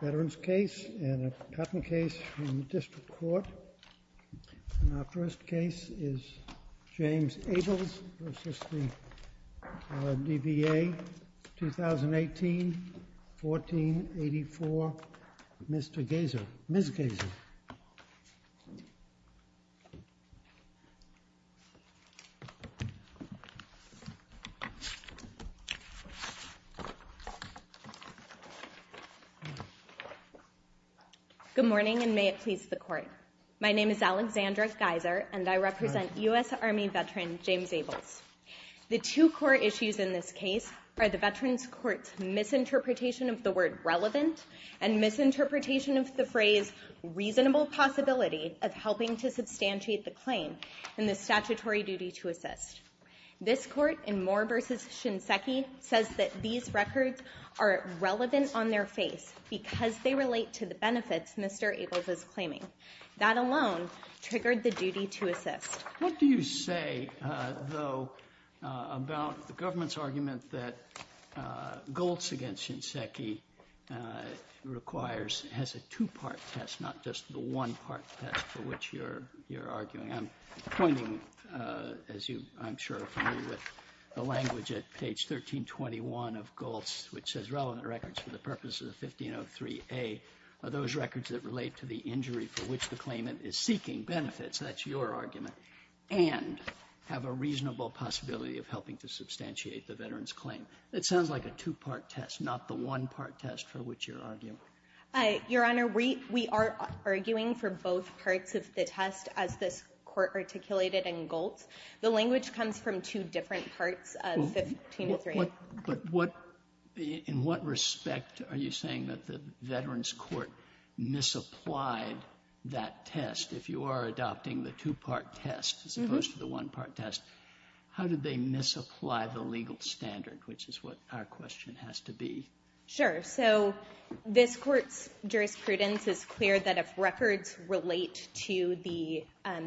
Veterans case and a patent case from the District Court. And our first case is James Abels v. DBA, 2018, 1484, Mr. Geyser, Ms. Geyser. Good morning, and may it please the Court. My name is Alexandra Geyser, and I represent U.S. Army veteran James Abels. The two core issues in this case are the Veterans Court's misinterpretation of the word relevant and misinterpretation of the phrase reasonable possibility of helping to substantiate the claim and the statutory duty to assist. This records are relevant on their face because they relate to the benefits Mr. Abels is claiming. That alone triggered the duty to assist. What do you say, though, about the government's argument that GOLTS against Shinseki requires has a two-part test, not just the one-part test for which you're arguing? I'm pointing, as you, I'm sure, are familiar with, the language at page 1321 of GOLTS, which says relevant records for the purposes of 1503A are those records that relate to the injury for which the claimant is seeking benefits. That's your argument. And have a reasonable possibility of helping to substantiate the veteran's claim. It sounds like a two-part test, not the one-part test for which you're arguing. Your Honor, we are arguing for both parts of the test as this Court articulated in GOLTS. The language comes from two different parts of 1503. In what respect are you saying that the Veterans Court misapplied that test? If you are adopting the two-part test as opposed to the one-part test, how did they misapply the legal standard, which is what our question has to be? Sure. So this Court's jurisprudence is clear that if records relate to the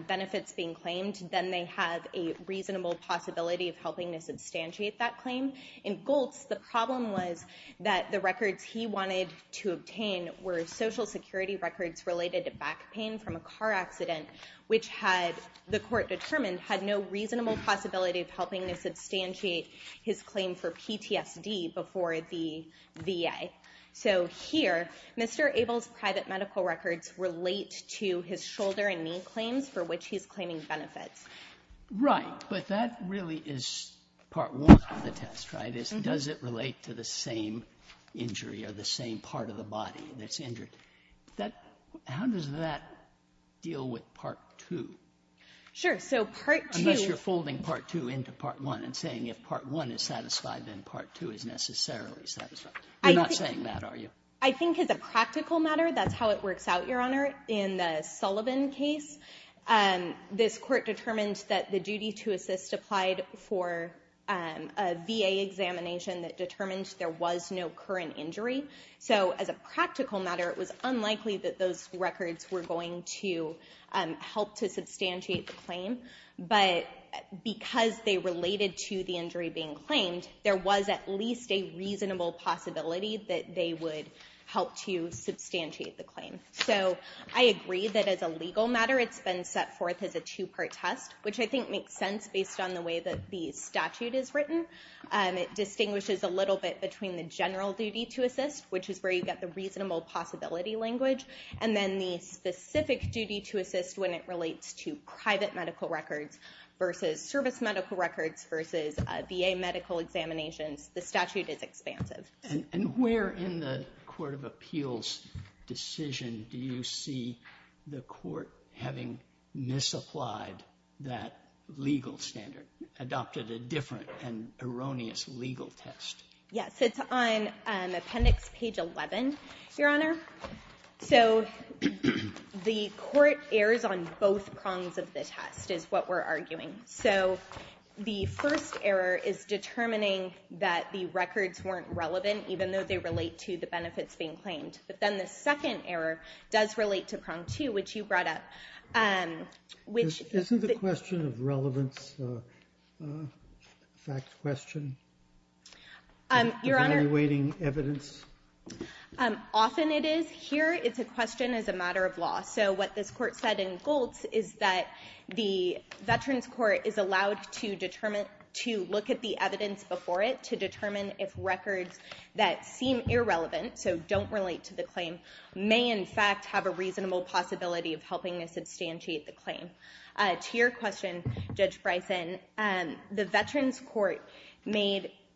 benefits being claimed, then they have a reasonable possibility of helping to substantiate that claim. In GOLTS, the problem was that the records he wanted to obtain were Social Security records related to back pain from a car accident, which had, the Court determined, had no reasonable possibility of helping to substantiate his claim for PTSD before the VA. So here, Mr. Abel's private medical records relate to his shoulder and knee claims for which he's claiming benefits. Right. But that really is part one of the test, right? It's does it relate to the same injury or the same part of the body that's injured? How does that deal with part two? Sure. So part two So you're folding part two into part one and saying if part one is satisfied, then part two is necessarily satisfied. You're not saying that, are you? I think as a practical matter, that's how it works out, Your Honor. In the Sullivan case, this Court determined that the duty to assist applied for a VA examination that determined there was no current injury. So as a practical matter, it was unlikely that those records were going to help to substantiate the claim. But because they related to the injury being claimed, there was at least a reasonable possibility that they would help to substantiate the claim. So I agree that as a legal matter, it's been set forth as a two-part test, which I think makes sense based on the way that the statute is written. It distinguishes a little bit between the general duty to assist, which is where you get the reasonable possibility language, and then the specific duty to assist when it relates to private medical records versus service medical records versus VA medical examinations. The statute is expansive. And where in the Court of Appeals decision do you see the Court having misapplied that legal standard, adopted a different and erroneous legal test? Yes, it's on Appendix Page 11, Your Honor. So the Court errs on both prongs of the test, is what we're arguing. So the first error is determining that the records weren't relevant, even though they relate to the benefits being claimed. But then the second error does relate to prong two, which you brought up. Isn't the question of relevance a fact question? Your Honor, often it is. Here, it's a question as a matter of law. So what this Court said in Goltz is that the Veterans Court is allowed to look at the evidence before it to determine if records that seem irrelevant, so don't relate to the claim, may in fact have a reasonable possibility of helping to substantiate the claim. To your question, Judge Bryson, the Veterans Court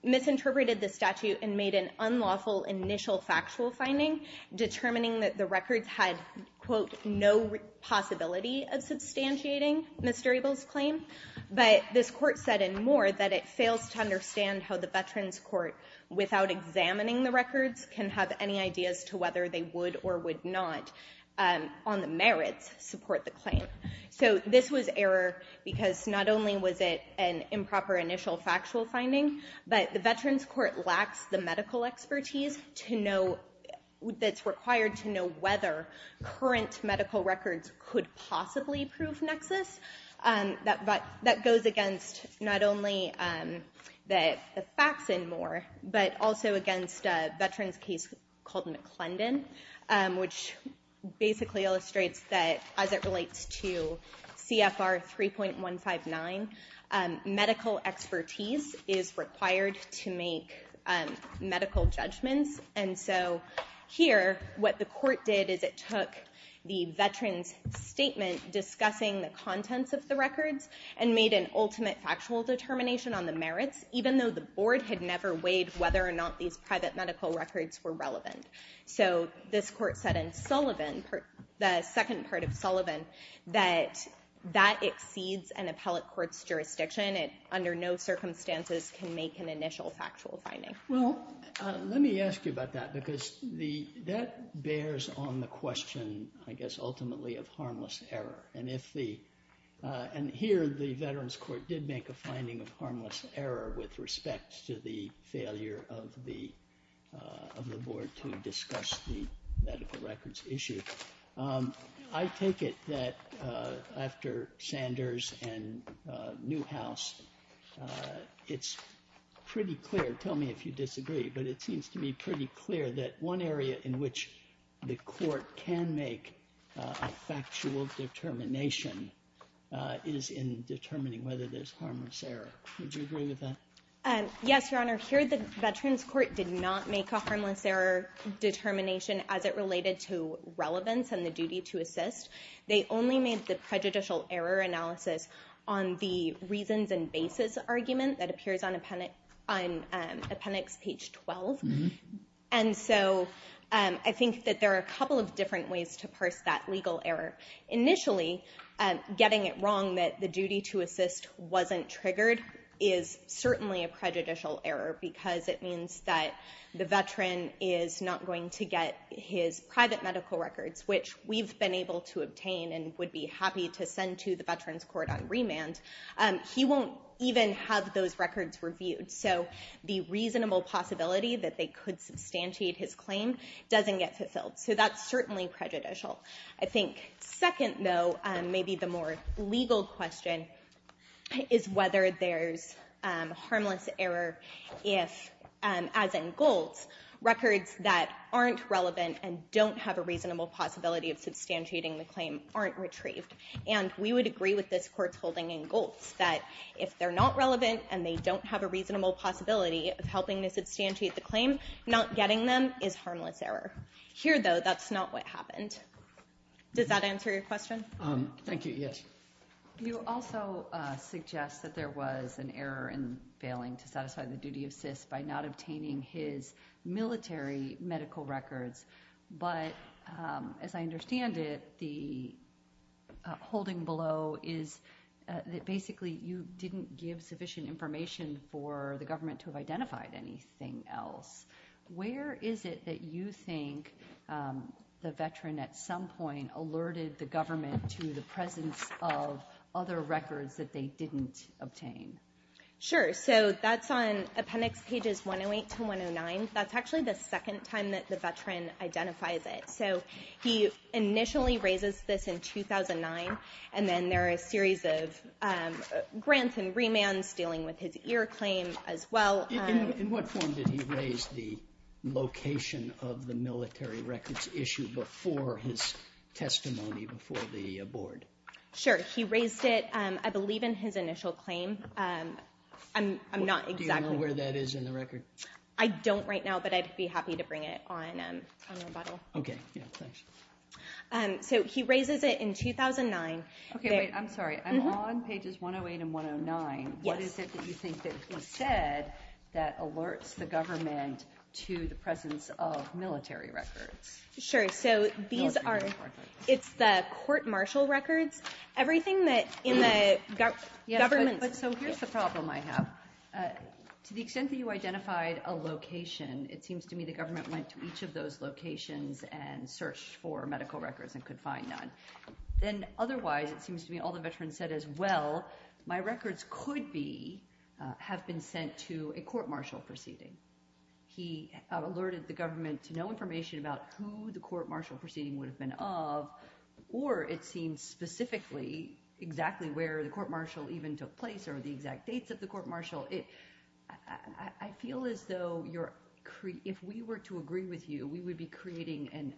misinterpreted the statute and made an unlawful initial factual finding, determining that the records had, quote, no possibility of substantiating Mr. Abel's claim. But this Court said, and more, that it fails to understand how the Veterans Court, without examining the records, can have any ideas as to whether they would or would not, on the merits, support the claim. So this was error because not only was it an improper initial factual finding, but the Veterans Court lacks the medical expertise that's required to know whether current medical records could possibly prove nexus. That goes against not only the facts and more, but also against a Veterans case called McClendon, which basically illustrates that, as it relates to CFR 3.159, medical expertise is required to make medical judgments. And so here, what the court did is it took the Veterans statement discussing the contents of the records and made an ultimate factual determination on the merits, even though the board had never weighed whether or not these private medical records were relevant. So this Court said in Sullivan, the second part of Sullivan, that that exceeds an appellate court's jurisdiction. It, under no circumstances, can make an initial factual finding. Well, let me ask you about that because that bears on the question, I guess, ultimately of harmless error. And here, the Veterans Court did make a finding of harmless error with respect to the failure of the board to discuss the medical records issue. I take it that after Sanders and Newhouse, it's pretty clear, tell me if you disagree, but it seems to be pretty clear that one area in which the court can make a factual determination is in determining whether there's harmless error. Would you agree with that? Yes, Your Honor. Here, the Veterans Court did not make a harmless error determination as it related to relevance and the duty to assist. They only made the prejudicial error analysis on the reasons and basis argument that appears on appendix page 12. And so I think that there are a couple of different ways to parse that legal error. Initially, getting it wrong that the duty to assist wasn't triggered is certainly a prejudicial error because it means that the veteran is not going to get his private medical records, which we've been able to obtain and would be happy to send to the Veterans Court on remand. He won't even have those records reviewed. So the reasonable possibility that they could substantiate his claim doesn't get fulfilled. So that's certainly prejudicial. I think second, though, maybe the more legal question is whether there's harmless error if, as in Goltz, records that aren't relevant and don't have a reasonable possibility of substantiating the claim aren't retrieved. And we would agree with this court's holding in Goltz that if they're not relevant and they don't have a reasonable possibility of helping to substantiate the claim, not getting them is harmless error. Here, though, that's not what happened. Does that answer your question? Thank you. Yes. You also suggest that there was an error in failing to satisfy the duty of assist by not obtaining his military medical records. But as I understand it, the holding below is that basically you didn't give sufficient information for the government to have identified anything else. Where is it that you think the veteran at some point alerted the government to the presence of other records that they didn't obtain? Sure. So that's on appendix pages 108 to 109. That's actually the second time that the veteran identifies it. So he initially raises this in 2009. And then there are a series of grants and remands dealing with his ear claim as well. In what form did he raise the location of the military records issue before his testimony before the board? Sure. He raised it, I believe, in his initial claim. I'm not exactly... Do you know where that is in the record? I don't right now, but I'd be happy to bring it on rebuttal. Okay. Yeah. Thanks. So he raises it in 2009. Okay. Wait. I'm sorry. I'm on pages 108 and 109. Yes. Where is it that you think that he said that alerts the government to the presence of military records? Sure. So these are... It's the court-martial records. Everything that in the government... So here's the problem I have. To the extent that you identified a location, it seems to me the government went to each of those locations and searched for medical records and could say, well, my records could have been sent to a court-martial proceeding. He alerted the government to no information about who the court-martial proceeding would have been of, or it seems specifically exactly where the court-martial even took place or the exact dates of the court-martial. I feel as though if we were to agree with you, we would be creating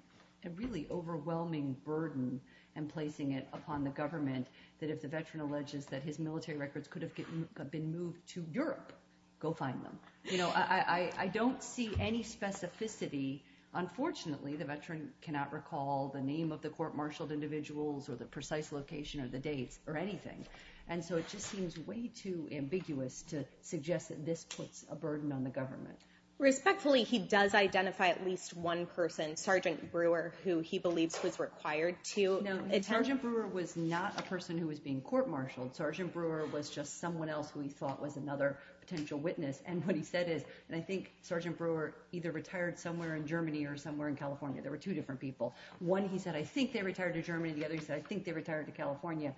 a really overwhelming burden and placing it upon the government that if the veteran alleges that his military records could have been moved to Europe, go find them. I don't see any specificity. Unfortunately, the veteran cannot recall the name of the court-martialed individuals or the precise location of the dates or anything. And so it just seems way too ambiguous to suggest that this puts a burden on the government. Respectfully, he does identify at least one person, Sergeant Brewer, who he believes was required to. No, Sergeant Brewer was not a person who was being court-martialed. Sergeant Brewer was just someone else who he thought was another potential witness. And what he said is, and I think Sergeant Brewer either retired somewhere in Germany or somewhere in California. There were two different people. One, he said, I think they retired to Germany. The other, he said, I think they retired to California.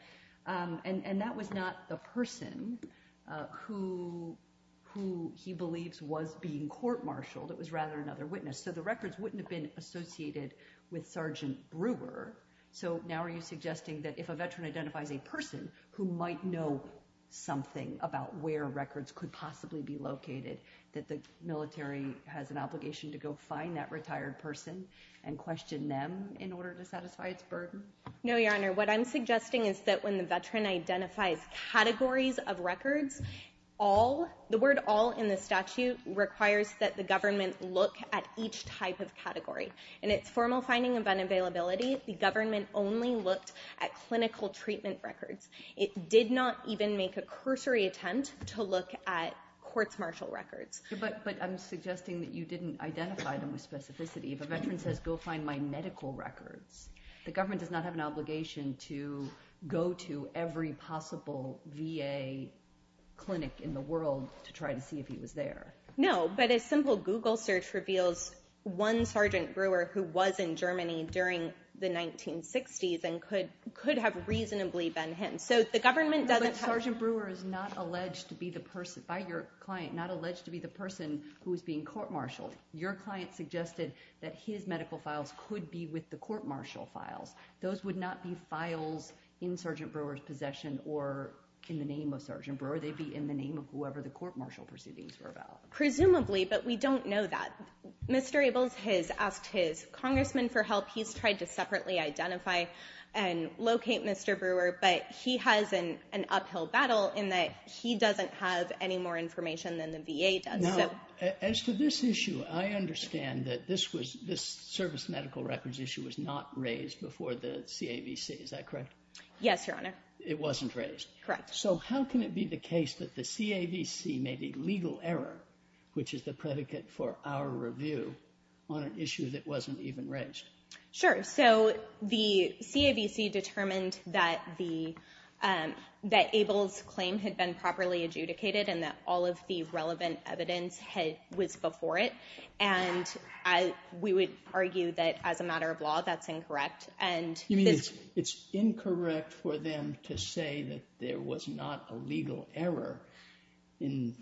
And that was not the person who he believes was being court-martialed. It was rather another witness. So the records wouldn't have been associated with Sergeant Brewer. So now are you suggesting that if a veteran identifies a person who might know something about where records could possibly be located, that the military has an obligation to go find that retired person and question them in order to satisfy its burden? No, Your Honor. What I'm suggesting is that when the veteran identifies categories of requires that the government look at each type of category. In its formal finding of unavailability, the government only looked at clinical treatment records. It did not even make a cursory attempt to look at court-martial records. But I'm suggesting that you didn't identify them with specificity. If a veteran says, go find my medical records, the government does not have an obligation to go to every possible VA clinic in the world to try to see if he was there. No, but a simple Google search reveals one Sergeant Brewer who was in Germany during the 1960s and could have reasonably been him. So the government doesn't have... But Sergeant Brewer is not alleged to be the person, by your client, not alleged to be the person who is being court-martialed. Your client suggested that his medical files could be with the court-martial files. Those would not be files in Sergeant Brewer's possession or in the name of Sergeant Brewer. They'd be in the name of whoever the court-martial proceedings were about. Presumably, but we don't know that. Mr. Ables has asked his congressman for help. He's tried to separately identify and locate Mr. Brewer, but he has an uphill battle in that he doesn't have any more information than the VA does. Now, as to this issue, I understand that this service medical records issue was not raised before the CAVC. Is that correct? Yes, Your Honor. It wasn't raised? Correct. So how can it be the case that the CAVC made a legal error, which is the predicate for our review, on an issue that wasn't even raised? Sure. So the CAVC determined that Ables' claim had been properly adjudicated and that all of the relevant evidence was before it, and we would argue that as a matter of law that's incorrect. You mean it's incorrect for them to say that there was not a legal error in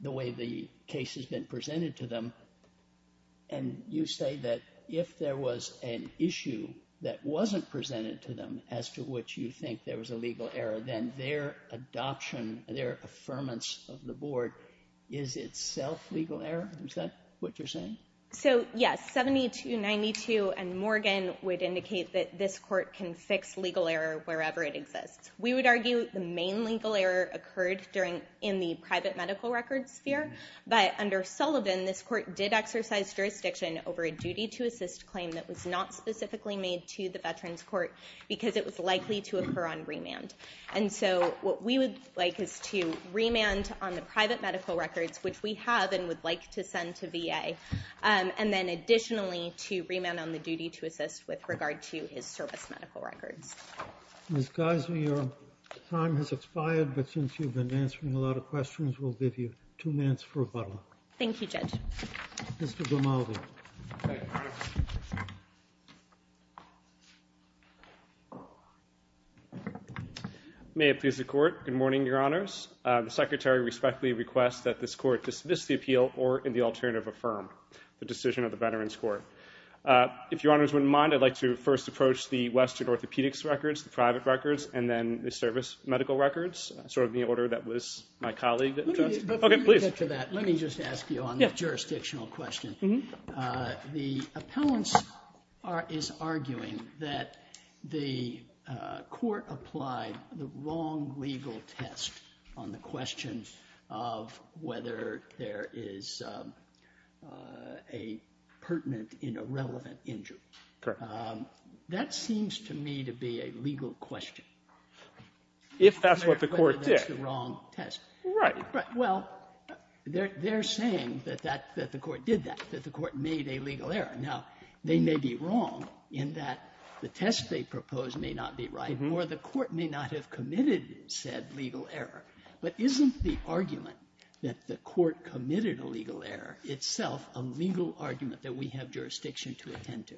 the way the case has been presented to them, and you say that if there was an issue that wasn't presented to them, as to which you think there was a legal error, then their adoption, their affirmance of the Board, is itself legal error? Is that what you're saying? So, yes, 7292 and Morgan would indicate that this Court can fix legal error wherever it exists. We would argue the main legal error occurred in the private medical records sphere, but under Sullivan, this Court did exercise jurisdiction over a duty to assist claim that was not specifically made to the Veterans Court because it was likely to occur on remand. And so what we would like is to remand on the private medical records, which we have and would like to send to VA, and then additionally to remand on the duty to assist with regard to his service medical records. Ms. Geiser, your time has expired, but since you've been answering a lot of questions, we'll give you two minutes for rebuttal. Thank you, Judge. Mr. Grimaldi. May it please the Court. Good morning, Your Honors. The Secretary respectfully requests that this Court dismiss the appeal or, in the alternative, affirm the decision of the Veterans Court. If Your Honors wouldn't mind, I'd like to first approach the Western Orthopedics records, the private records, and then the service medical records, sort of in the order that was my colleague addressed. Before you get to that, let me just ask you on the jurisdictional question. The appellants are arguing that the Court applied the wrong legal test on the question of whether there is a pertinent and irrelevant injury. Correct. That seems to me to be a legal question. If that's what the Court did. Whether that's the wrong test. Right. Well, they're saying that the Court did that, that the Court made a legal error. Now, they may be wrong in that the test they proposed may not be right, or the Court may not have committed said legal error. But isn't the argument that the Court committed a legal error itself a legal argument that we have jurisdiction to attend to?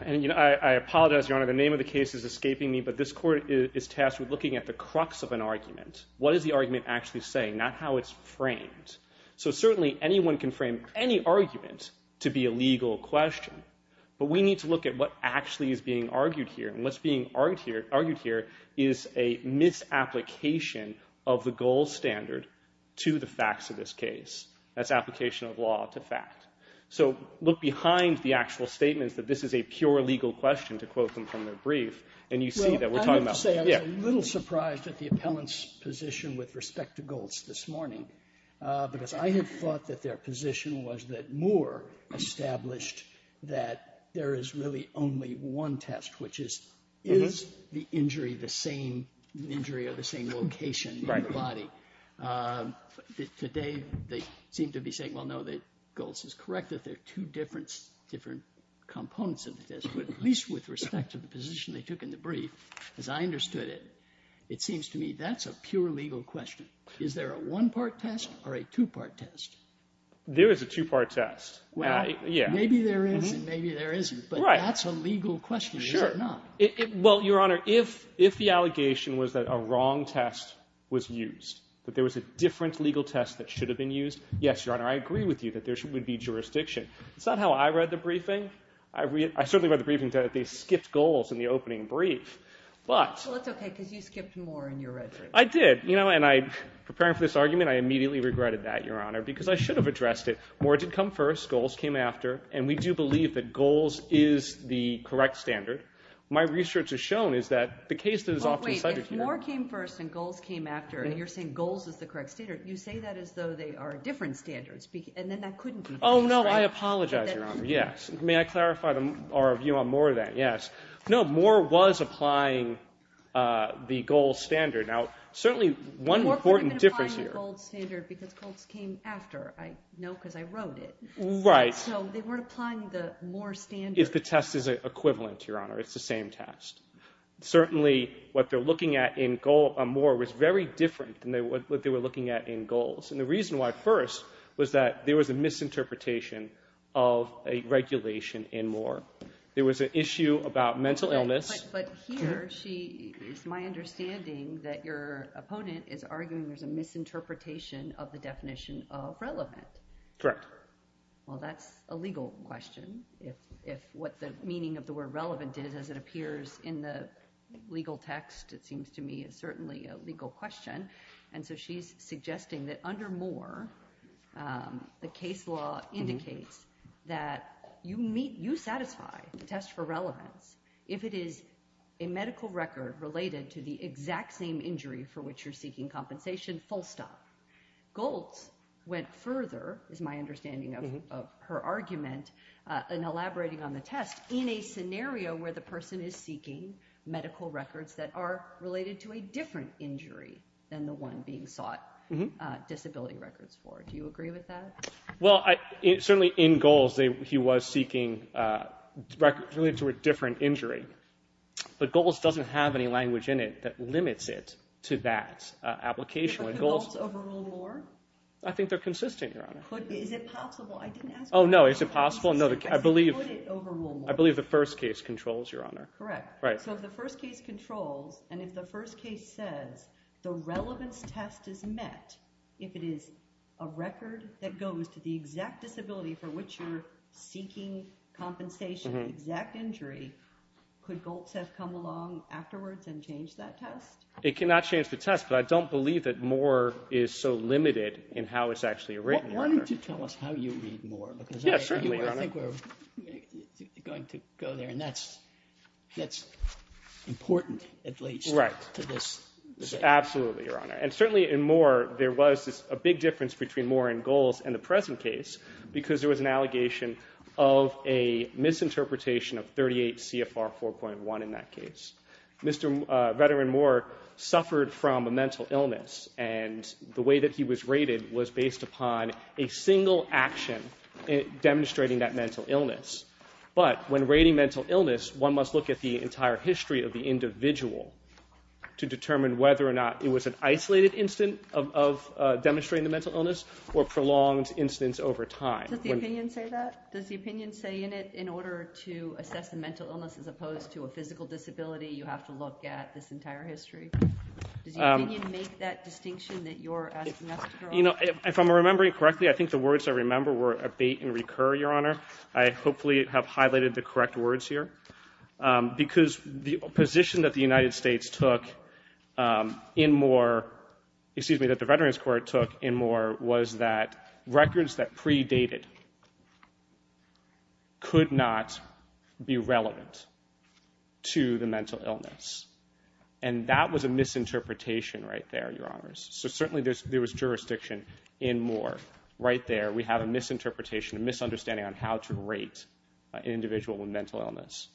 I apologize, Your Honor. The name of the case is escaping me, but this Court is tasked with looking at the crux of an argument. What is the argument actually saying? Not how it's framed. So certainly anyone can frame any argument to be a legal question, but we need to look at what actually is being argued here. And what's being argued here is a misapplication of the gold standard to the facts of this case. That's application of law to fact. So look behind the actual statements that this is a pure legal question, to quote them from their brief, and you see that we're talking about. I will say I was a little surprised at the appellant's position with respect to Goltz this morning, because I had thought that their position was that Moore established that there is really only one test, which is, is the injury the same injury or the same location in the body? Right. Today, they seem to be saying, well, no, that Goltz is correct, that there are two different components of the test, but at least with respect to the position they took in the case, they understood it. It seems to me that's a pure legal question. Is there a one-part test or a two-part test? There is a two-part test. Well, maybe there is and maybe there isn't, but that's a legal question, is it not? Sure. Well, Your Honor, if the allegation was that a wrong test was used, that there was a different legal test that should have been used, yes, Your Honor, I agree with you that there would be jurisdiction. It's not how I read the briefing. I certainly read the briefing that they skipped goals in the opening brief. Well, that's okay, because you skipped Moore in your reference. I did. You know, and I, preparing for this argument, I immediately regretted that, Your Honor, because I should have addressed it. Moore did come first, Goltz came after, and we do believe that Goltz is the correct standard. My research has shown is that the case that is often cited here— Well, wait. If Moore came first and Goltz came after, and you're saying Goltz is the correct standard, you say that as though they are different standards, and then that couldn't be the case, right? Oh, no. I apologize, Your Honor. Yes. May I clarify our view on Moore then? Yes. No, Moore was applying the gold standard. Now, certainly one important difference here— Moore could have been applying the gold standard because Goltz came after. I know because I wrote it. Right. So they weren't applying the Moore standard. If the test is equivalent, Your Honor. It's the same test. Certainly, what they're looking at in Moore was very different than what they were looking at in Goltz, and the reason why first was that there was a misinterpretation of a regulation in Moore. There was an issue about mental illness. But here, it's my understanding that your opponent is arguing there's a misinterpretation of the definition of relevant. Correct. Well, that's a legal question. If what the meaning of the word relevant is, as it appears in the legal text, it seems to me is certainly a legal question, and so she's suggesting that under Moore, the case law indicates that you meet—you satisfy the test for relevance if it is a medical record related to the exact same injury for which you're seeking compensation, full stop. Goltz went further, is my understanding of her argument, in elaborating on the test, in a scenario where the person is seeking medical records that are related to a different injury than the one being sought disability records for. Do you agree with that? Well, certainly in Goltz, he was seeking records related to a different injury, but Goltz doesn't have any language in it that limits it to that application. Would the Goltz overrule Moore? I think they're consistent, Your Honor. Is it possible? I didn't ask— Oh, no. Is it possible? I believe the first case controls, Your Honor. Correct. So if the first case controls, and if the first case says the relevance test is met if it is a record that goes to the exact disability for which you're seeking compensation, the exact injury, could Goltz have come along afterwards and changed that test? It cannot change the test, but I don't believe that Moore is so limited in how it's actually written, Your Honor. Why don't you tell us how you read Moore? Yeah, certainly, Your Honor. Because I think we're going to go there, and that's important, at least. Right. Absolutely, Your Honor. And certainly in Moore, there was a big difference between Moore and Goltz in the present case because there was an allegation of a misinterpretation of 38 CFR 4.1 in that case. Mr. veteran Moore suffered from a mental illness, and the way that he was rated was based upon a single action demonstrating that mental illness. But when rating mental illness, one must look at the entire history of the individual to determine whether or not it was an isolated incident of demonstrating the mental illness or prolonged incidents over time. Does the opinion say that? Does the opinion say in it, in order to assess a mental illness as opposed to a physical disability, you have to look at this entire history? Does the opinion make that distinction that you're asking us to draw? If I'm remembering correctly, I think the words I remember were abate and recur, Your Honor. I hopefully have highlighted the correct words here. Because the position that the United States took in Moore, excuse me, that the Veterans Court took in Moore was that records that predated could not be relevant to the mental illness. And that was a misinterpretation right there, Your Honors. So certainly there was jurisdiction in Moore right there. We have a misinterpretation, a misunderstanding on how to rate an individual with mental illness.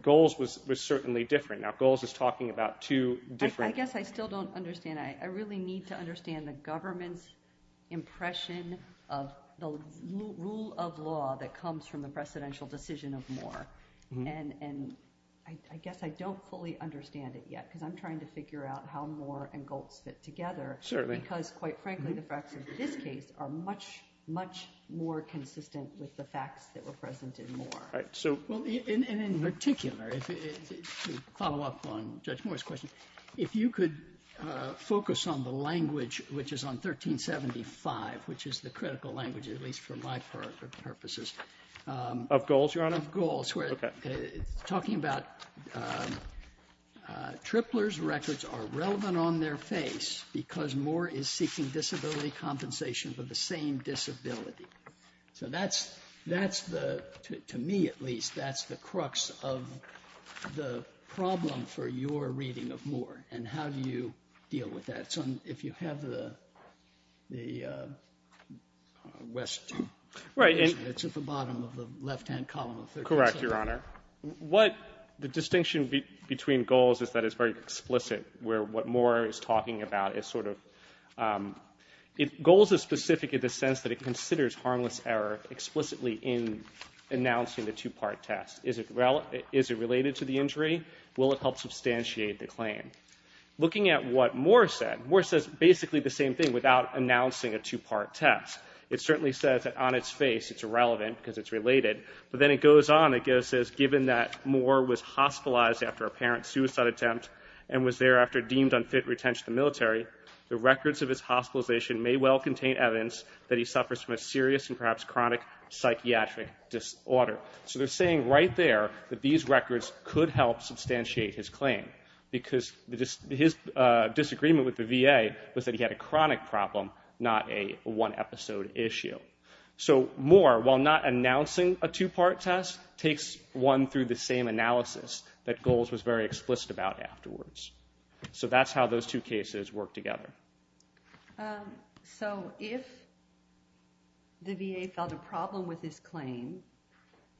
Goals was certainly different. Now, goals is talking about two different... I guess I still don't understand. I really need to understand the government's impression of the rule of law that comes from the precedential decision of Moore. And I guess I don't fully understand it yet because I'm trying to figure out how Moore and Goltz fit together. Certainly. Because, quite frankly, the facts of this case are much, much more consistent with the facts that were present in Moore. And in particular, to follow up on Judge Moore's question, if you could focus on the language, which is on 1375, which is the critical language, at least for my purposes... Of goals, Your Honor? Of goals. Talking about Tripler's records are relevant on their face because Moore is seeking disability compensation for the same disability. So that's the, to me at least, that's the crux of the problem for your reading of Moore and how do you deal with that. So if you have the West... Right. It's at the bottom of the left-hand column of 1375. Correct, Your Honor. What the distinction between goals is that it's very explicit where what Moore is talking about is sort of... Goals is specific in the sense that it considers harmless error explicitly in announcing the two-part test. Is it related to the injury? Will it help substantiate the claim? Looking at what Moore said, Moore says basically the same thing without announcing a two-part test. It certainly says that on its face it's irrelevant because it's related. But then it goes on. It says, So they're saying right there that these records could help substantiate his claim because his disagreement with the VA was that he had a chronic problem, not a one-episode issue. So Moore, while not announcing a two-part test, He's not announcing a two-part test. that Goals was very explicit about afterwards. So that's how those two cases work together. So if the VA found a problem with his claim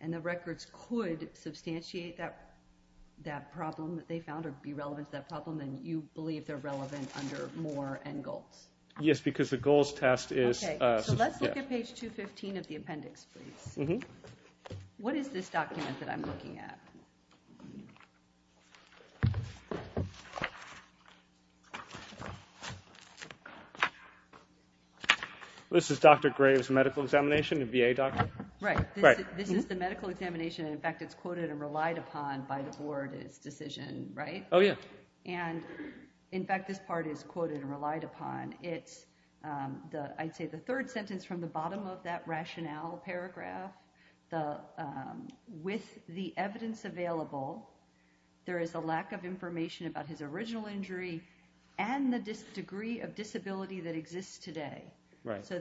and the records could substantiate that problem that they found or be relevant to that problem, then you believe they're relevant under Moore and Goals? Yes, because the Goals test is... Okay, so let's look at page 215 of the appendix, please. What is this document that I'm looking at? This is Dr. Graves' medical examination, a VA doctor? Right. This is the medical examination. In fact, it's quoted and relied upon by the board, its decision, right? Oh, yeah. And in fact, this part is quoted and relied upon. It's, I'd say, the third sentence from the bottom of that rationale paragraph. With the evidence available, there is a lack of information about his original injury and the degree of disability that exists today. Right. So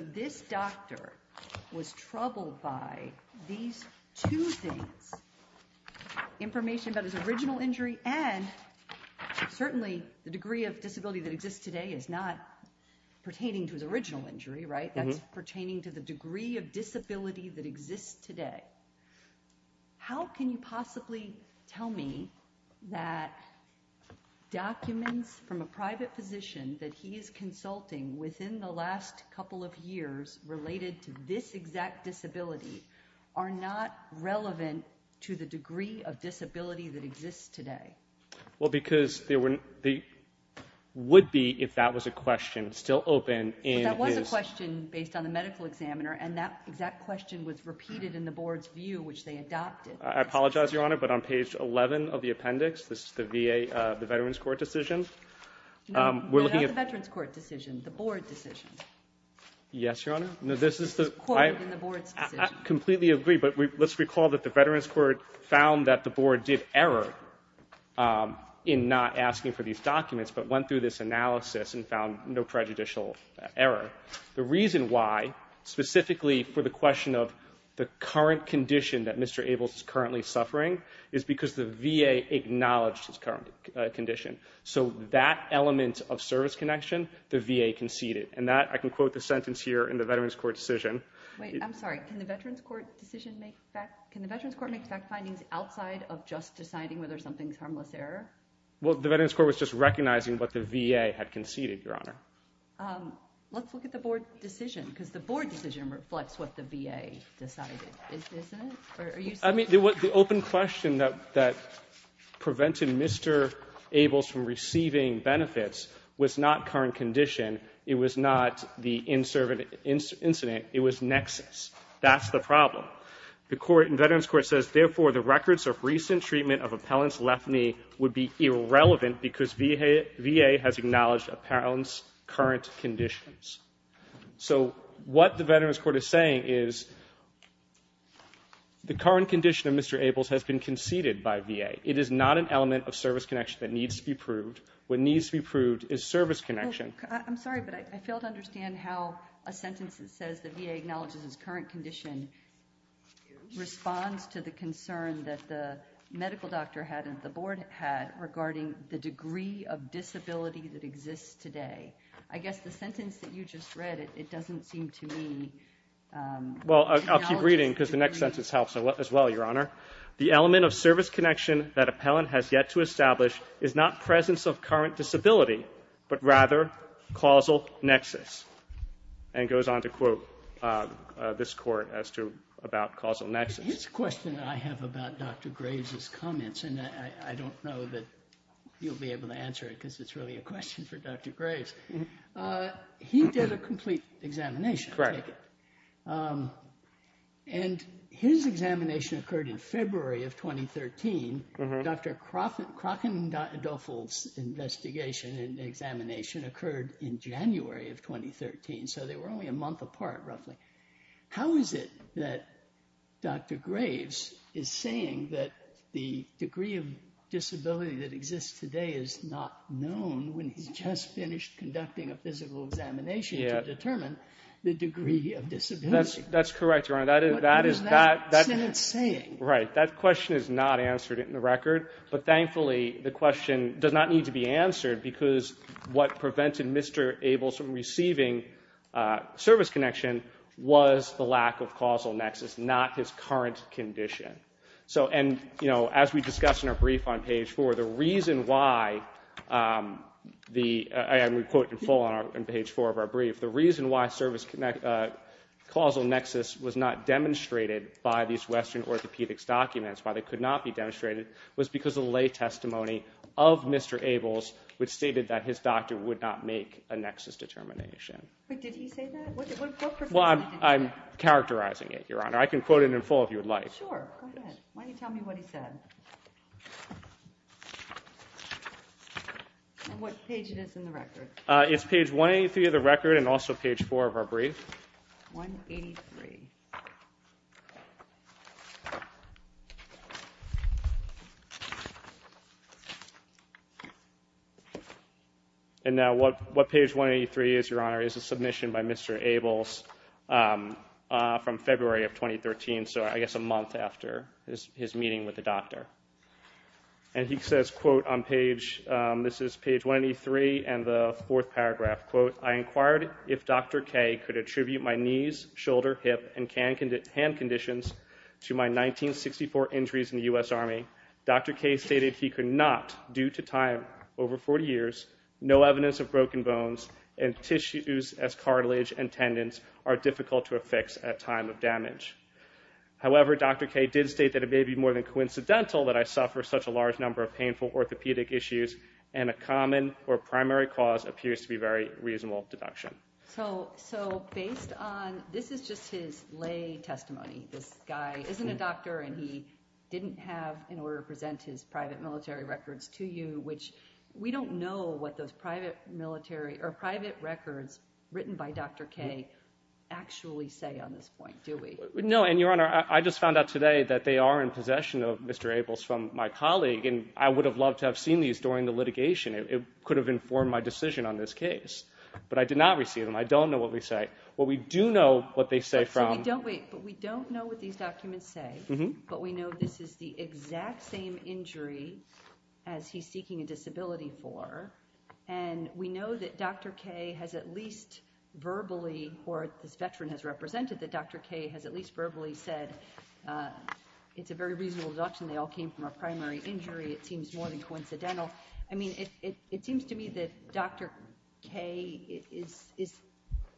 this doctor was troubled by these two things, information about his original injury and certainly the degree of disability that exists today is not pertaining to his original injury, right? That's pertaining to the degree of disability that exists today. How can you possibly tell me that documents from a private physician that he is consulting within the last couple of years related to this exact disability are not relevant to the degree of disability that exists today? Well, because there would be, if that was a question, still open in his... Based on the medical examiner, and that exact question was repeated in the board's view, which they adopted. I apologize, Your Honor, but on page 11 of the appendix, this is the VA, the Veterans Court decision. No, not the Veterans Court decision, the board decision. Yes, Your Honor. It's quoted in the board's decision. I completely agree, but let's recall that the Veterans Court found that the board did error in not asking for these documents but went through this analysis and found no prejudicial error. The reason why, specifically for the question of the current condition that Mr. Ables is currently suffering, is because the VA acknowledged his current condition. So that element of service connection, the VA conceded. And that, I can quote the sentence here in the Veterans Court decision. Wait, I'm sorry. Can the Veterans Court decision make fact... Can the Veterans Court make fact findings outside of just deciding whether something's harmless error? Well, the Veterans Court was just recognizing what the VA had conceded, Your Honor. Let's look at the board decision, because the board decision reflects what the VA decided. Isn't it? I mean, the open question that prevented Mr. Ables from receiving benefits was not current condition. It was not the incident. It was nexus. That's the problem. The Veterans Court says, therefore, the records of recent treatment of appellant's left knee would be irrelevant because VA has acknowledged appellant's current conditions. So what the Veterans Court is saying is, the current condition of Mr. Ables has been conceded by VA. It is not an element of service connection that needs to be proved. What needs to be proved is service connection. I'm sorry, but I fail to understand how a sentence that says the VA acknowledges his current condition responds to the concern that the medical doctor had and the board had regarding the degree of disability that exists today. I guess the sentence that you just read, it doesn't seem to me. Well, I'll keep reading because the next sentence helps as well, Your Honor. The element of service connection that appellant has yet to establish is not presence of current disability, but rather causal nexus. And it goes on to quote this court as to about causal nexus. This question that I have about Dr. Graves' comments, and I don't know that you'll be able to answer it because it's really a question for Dr. Graves. He did a complete examination. Correct. And his examination occurred in February of 2013. Dr. Krokendorffel's investigation and examination occurred in January of 2013, so they were only a month apart roughly. How is it that Dr. Graves is saying that the degree of disability that exists today is not known when he's just finished conducting a physical examination to determine the degree of disability? That's correct, Your Honor. What is that sentence saying? Right, that question is not answered in the record, but thankfully the question does not need to be answered because what prevented Mr. Ables from receiving service connection was the lack of causal nexus, not his current condition. And, you know, as we discussed in our brief on page 4, the reason why the, and we quote in full on page 4 of our brief, the reason why causal nexus was not demonstrated by these Western orthopedics documents, why they could not be demonstrated, was because of the lay testimony of Mr. Ables, which stated that his doctor would not make a nexus determination. Wait, did he say that? What percentage did he say? Well, I'm characterizing it, Your Honor. I can quote it in full if you would like. Sure, go ahead. Why don't you tell me what he said. And what page it is in the record? It's page 183 of the record and also page 4 of our brief. 183. And now what page 183 is, Your Honor, is a submission by Mr. Ables from February of 2013, so I guess a month after his meeting with the doctor. And he says, quote, on page, this is page 183 and the fourth paragraph, quote, I inquired if Dr. K could attribute my knees, shoulder, hip, and hand conditions to my 1964 injuries in the U.S. Army. Dr. K stated he could not, due to time over 40 years, no evidence of broken bones and tissues as cartilage and tendons are difficult to affix at time of damage. However, Dr. K did state that it may be more than coincidental that I suffer such a large number of painful orthopedic issues and a common or primary cause appears to be very reasonable deduction. So based on this is just his lay testimony, this guy isn't a doctor and he didn't have, in order to present his private military records to you, which we don't know what those private records written by Dr. K actually say on this point, do we? No, and Your Honor, I just found out today that they are in possession of Mr. Ables from my colleague and I would have loved to have seen these during the litigation. It could have informed my decision on this case, but I did not receive them. I don't know what they say. What we do know what they say from... But we don't know what these documents say, but we know this is the exact same injury as he's seeking a disability for, and we know that Dr. K has at least verbally, or this veteran has represented that Dr. K has at least verbally said it's a very reasonable deduction, they all came from a primary injury, it seems more than coincidental. I mean, it seems to me that Dr. K is,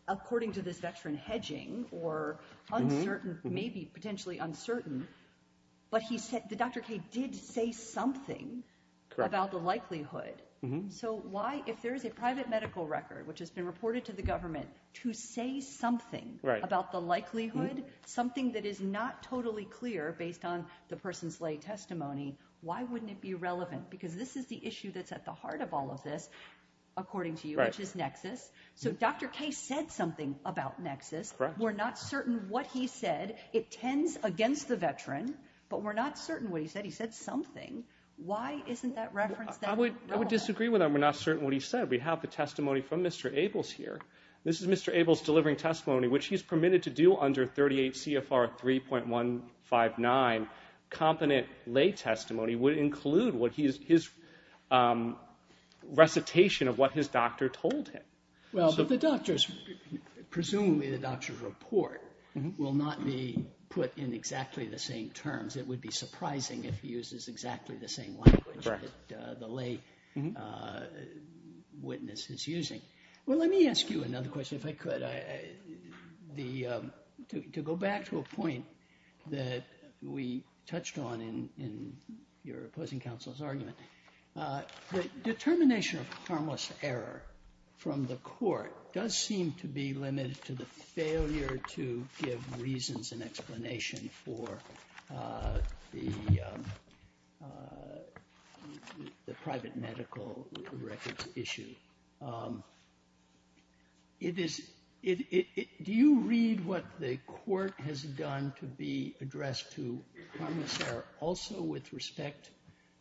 according to this veteran, hedging or uncertain, maybe potentially uncertain, but he said that Dr. K did say something about the likelihood. So why, if there is a private medical record, which has been reported to the government, to say something about the likelihood, something that is not totally clear based on the person's lay testimony, why wouldn't it be relevant? Because this is the issue that's at the heart of all of this, according to you, which is nexus. So Dr. K said something about nexus. We're not certain what he said. It tends against the veteran, but we're not certain what he said. He said something. Why isn't that reference relevant? I would disagree with him. We're not certain what he said. We have the testimony from Mr. Ables here. This is Mr. Ables delivering testimony, which he's permitted to do under 38 CFR 3.159. Competent lay testimony would include his recitation of what his doctor told him. Well, but the doctor's, presumably the doctor's report, will not be put in exactly the same terms. It would be surprising if he uses exactly the same language that the lay witness is using. Well, let me ask you another question, if I could. To go back to a point that we touched on in your opposing counsel's argument, the determination of harmless error from the court does seem to be limited to the failure to give reasons and explanation for the private medical records issue. Do you read what the court has done to be addressed to harmless error also with respect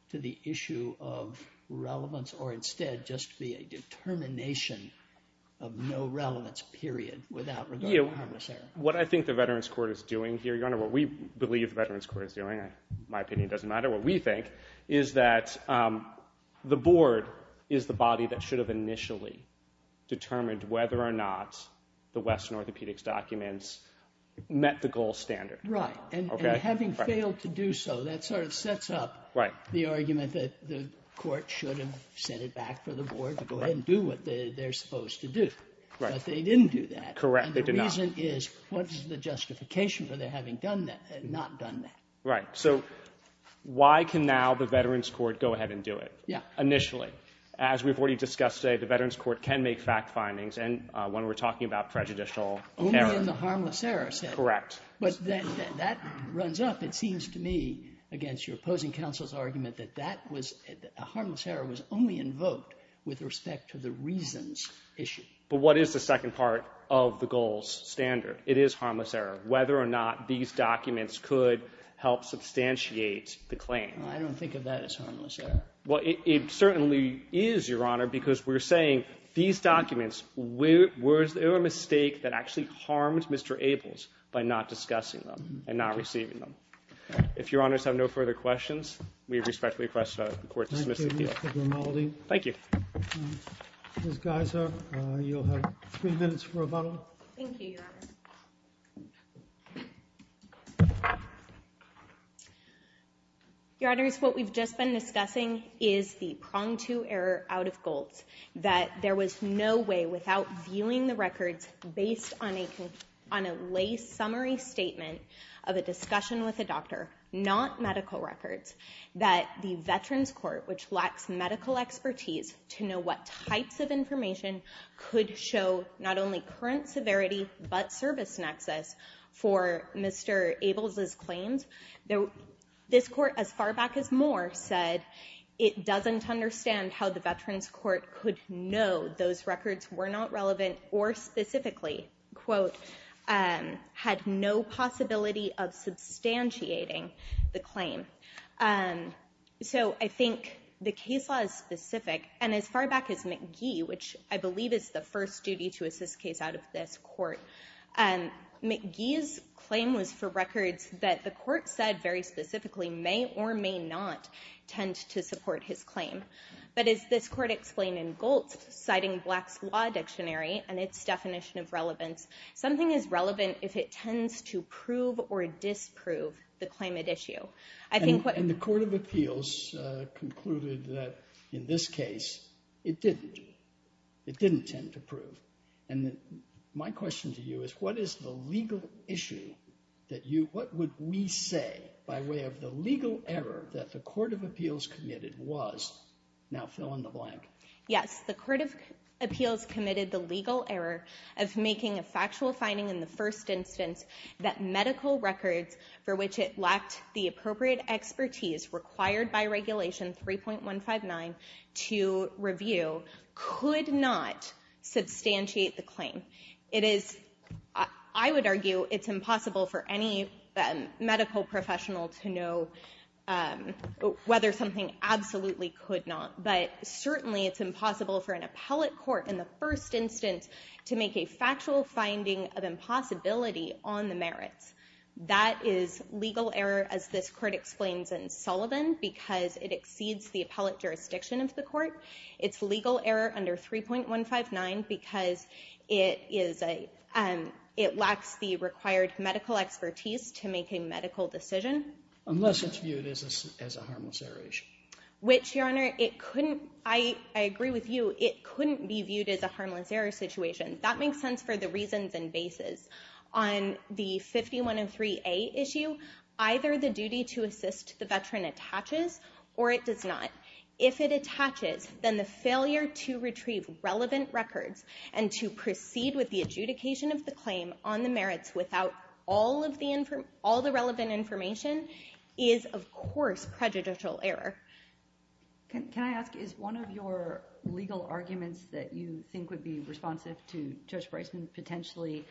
to the issue of relevance, or instead just be a determination of no relevance, period, without regard to harmless error? What I think the Veterans Court is doing here, Your Honor, what we believe the Veterans Court is doing, my opinion doesn't matter, what we think is that the board is the body that should have initially determined whether or not the Western Orthopedics documents met the gold standard. Right, and having failed to do so, that sort of sets up the argument that the court should have sent it back for the board to go ahead and do what they're supposed to do. But they didn't do that. Correct, they did not. And the reason is, what is the justification for their having not done that? Right, so why can now the Veterans Court go ahead and do it initially? As we've already discussed today, the Veterans Court can make fact findings, and when we're talking about prejudicial error. Only in the harmless error setting. Correct. But that runs up, it seems to me, against your opposing counsel's argument that a harmless error was only invoked with respect to the reasons issue. But what is the second part of the gold standard? It is harmless error. Whether or not these documents could help substantiate the claim. I don't think of that as harmless error. Well, it certainly is, Your Honor, because we're saying these documents were a mistake that actually harmed Mr. Ables by not discussing them and not receiving them. If Your Honors have no further questions, we respectfully request the court dismiss the hearing. Thank you, Mr. Grimaldi. Ms. Geiser, you'll have three minutes for rebuttal. Thank you, Your Honor. Your Honors, what we've just been discussing is the pronged-to error out of gold, that there was no way without viewing the records based on a lay summary statement of a discussion with a doctor, not medical records, that the Veterans Court, which lacks medical expertise to know what types of information, could show not only current severity but service nexus for Mr. Ables' claims. This court, as far back as Moore, said it doesn't understand how the Veterans Court could know those records were not relevant or specifically, quote, had no possibility of substantiating the claim. So I think the case law is specific. And as far back as McGee, which I believe is the first duty-to-assist case out of this court, McGee's claim was for records that the court said very specifically may or may not tend to support his claim. But as this court explained in Goltz, citing Black's Law Dictionary and its definition of relevance, something is relevant if it tends to prove or disprove the claim at issue. And the Court of Appeals concluded that, in this case, it didn't. It didn't tend to prove. And my question to you is, what is the legal issue that you, what would we say by way of the legal error that the Court of Appeals committed was, now fill in the blank? Yes, the Court of Appeals committed the legal error of making a factual finding in the first instance that medical records for which it lacked the appropriate expertise required by Regulation 3.159 to review could not substantiate the claim. It is, I would argue, it's impossible for any medical professional to know whether something absolutely could not. But certainly it's impossible for an appellate court in the first instance to make a factual finding of impossibility on the merits. That is legal error, as this court explains in Sullivan, because it exceeds the appellate jurisdiction of the court. It's legal error under 3.159 because it is a, it lacks the required medical expertise to make a medical decision. Unless it's viewed as a harmless error issue. Which, Your Honor, it couldn't, I agree with you, it couldn't be viewed as a harmless error situation. That makes sense for the reasons and basis. On the 5103A issue, either the duty to assist the veteran attaches or it does not. If it attaches, then the failure to retrieve relevant records and to proceed with the adjudication of the claim on the merits without all of the, all the relevant information is, of course, prejudicial error. Can I ask, is one of your legal arguments that you think would be responsive to Judge Bryson potentially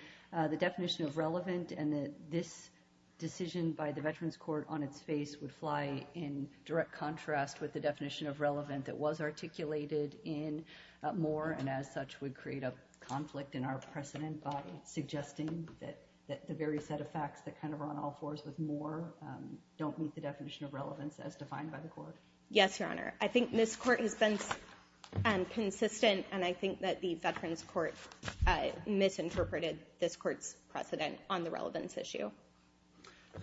the definition of relevant and that this decision by the Veterans Court on its face would fly in direct contrast with the definition of relevant that was articulated in Moore and as such would create a conflict in our precedent by suggesting that the very set of facts that kind of are on all fours with Moore don't meet the definition of relevance as defined by the court? Yes, Your Honor. I think this court has been consistent and I think that the Veterans Court misinterpreted this court's precedent on the relevance issue.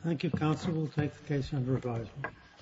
Thank you, Counsel. We'll take the case under revisal.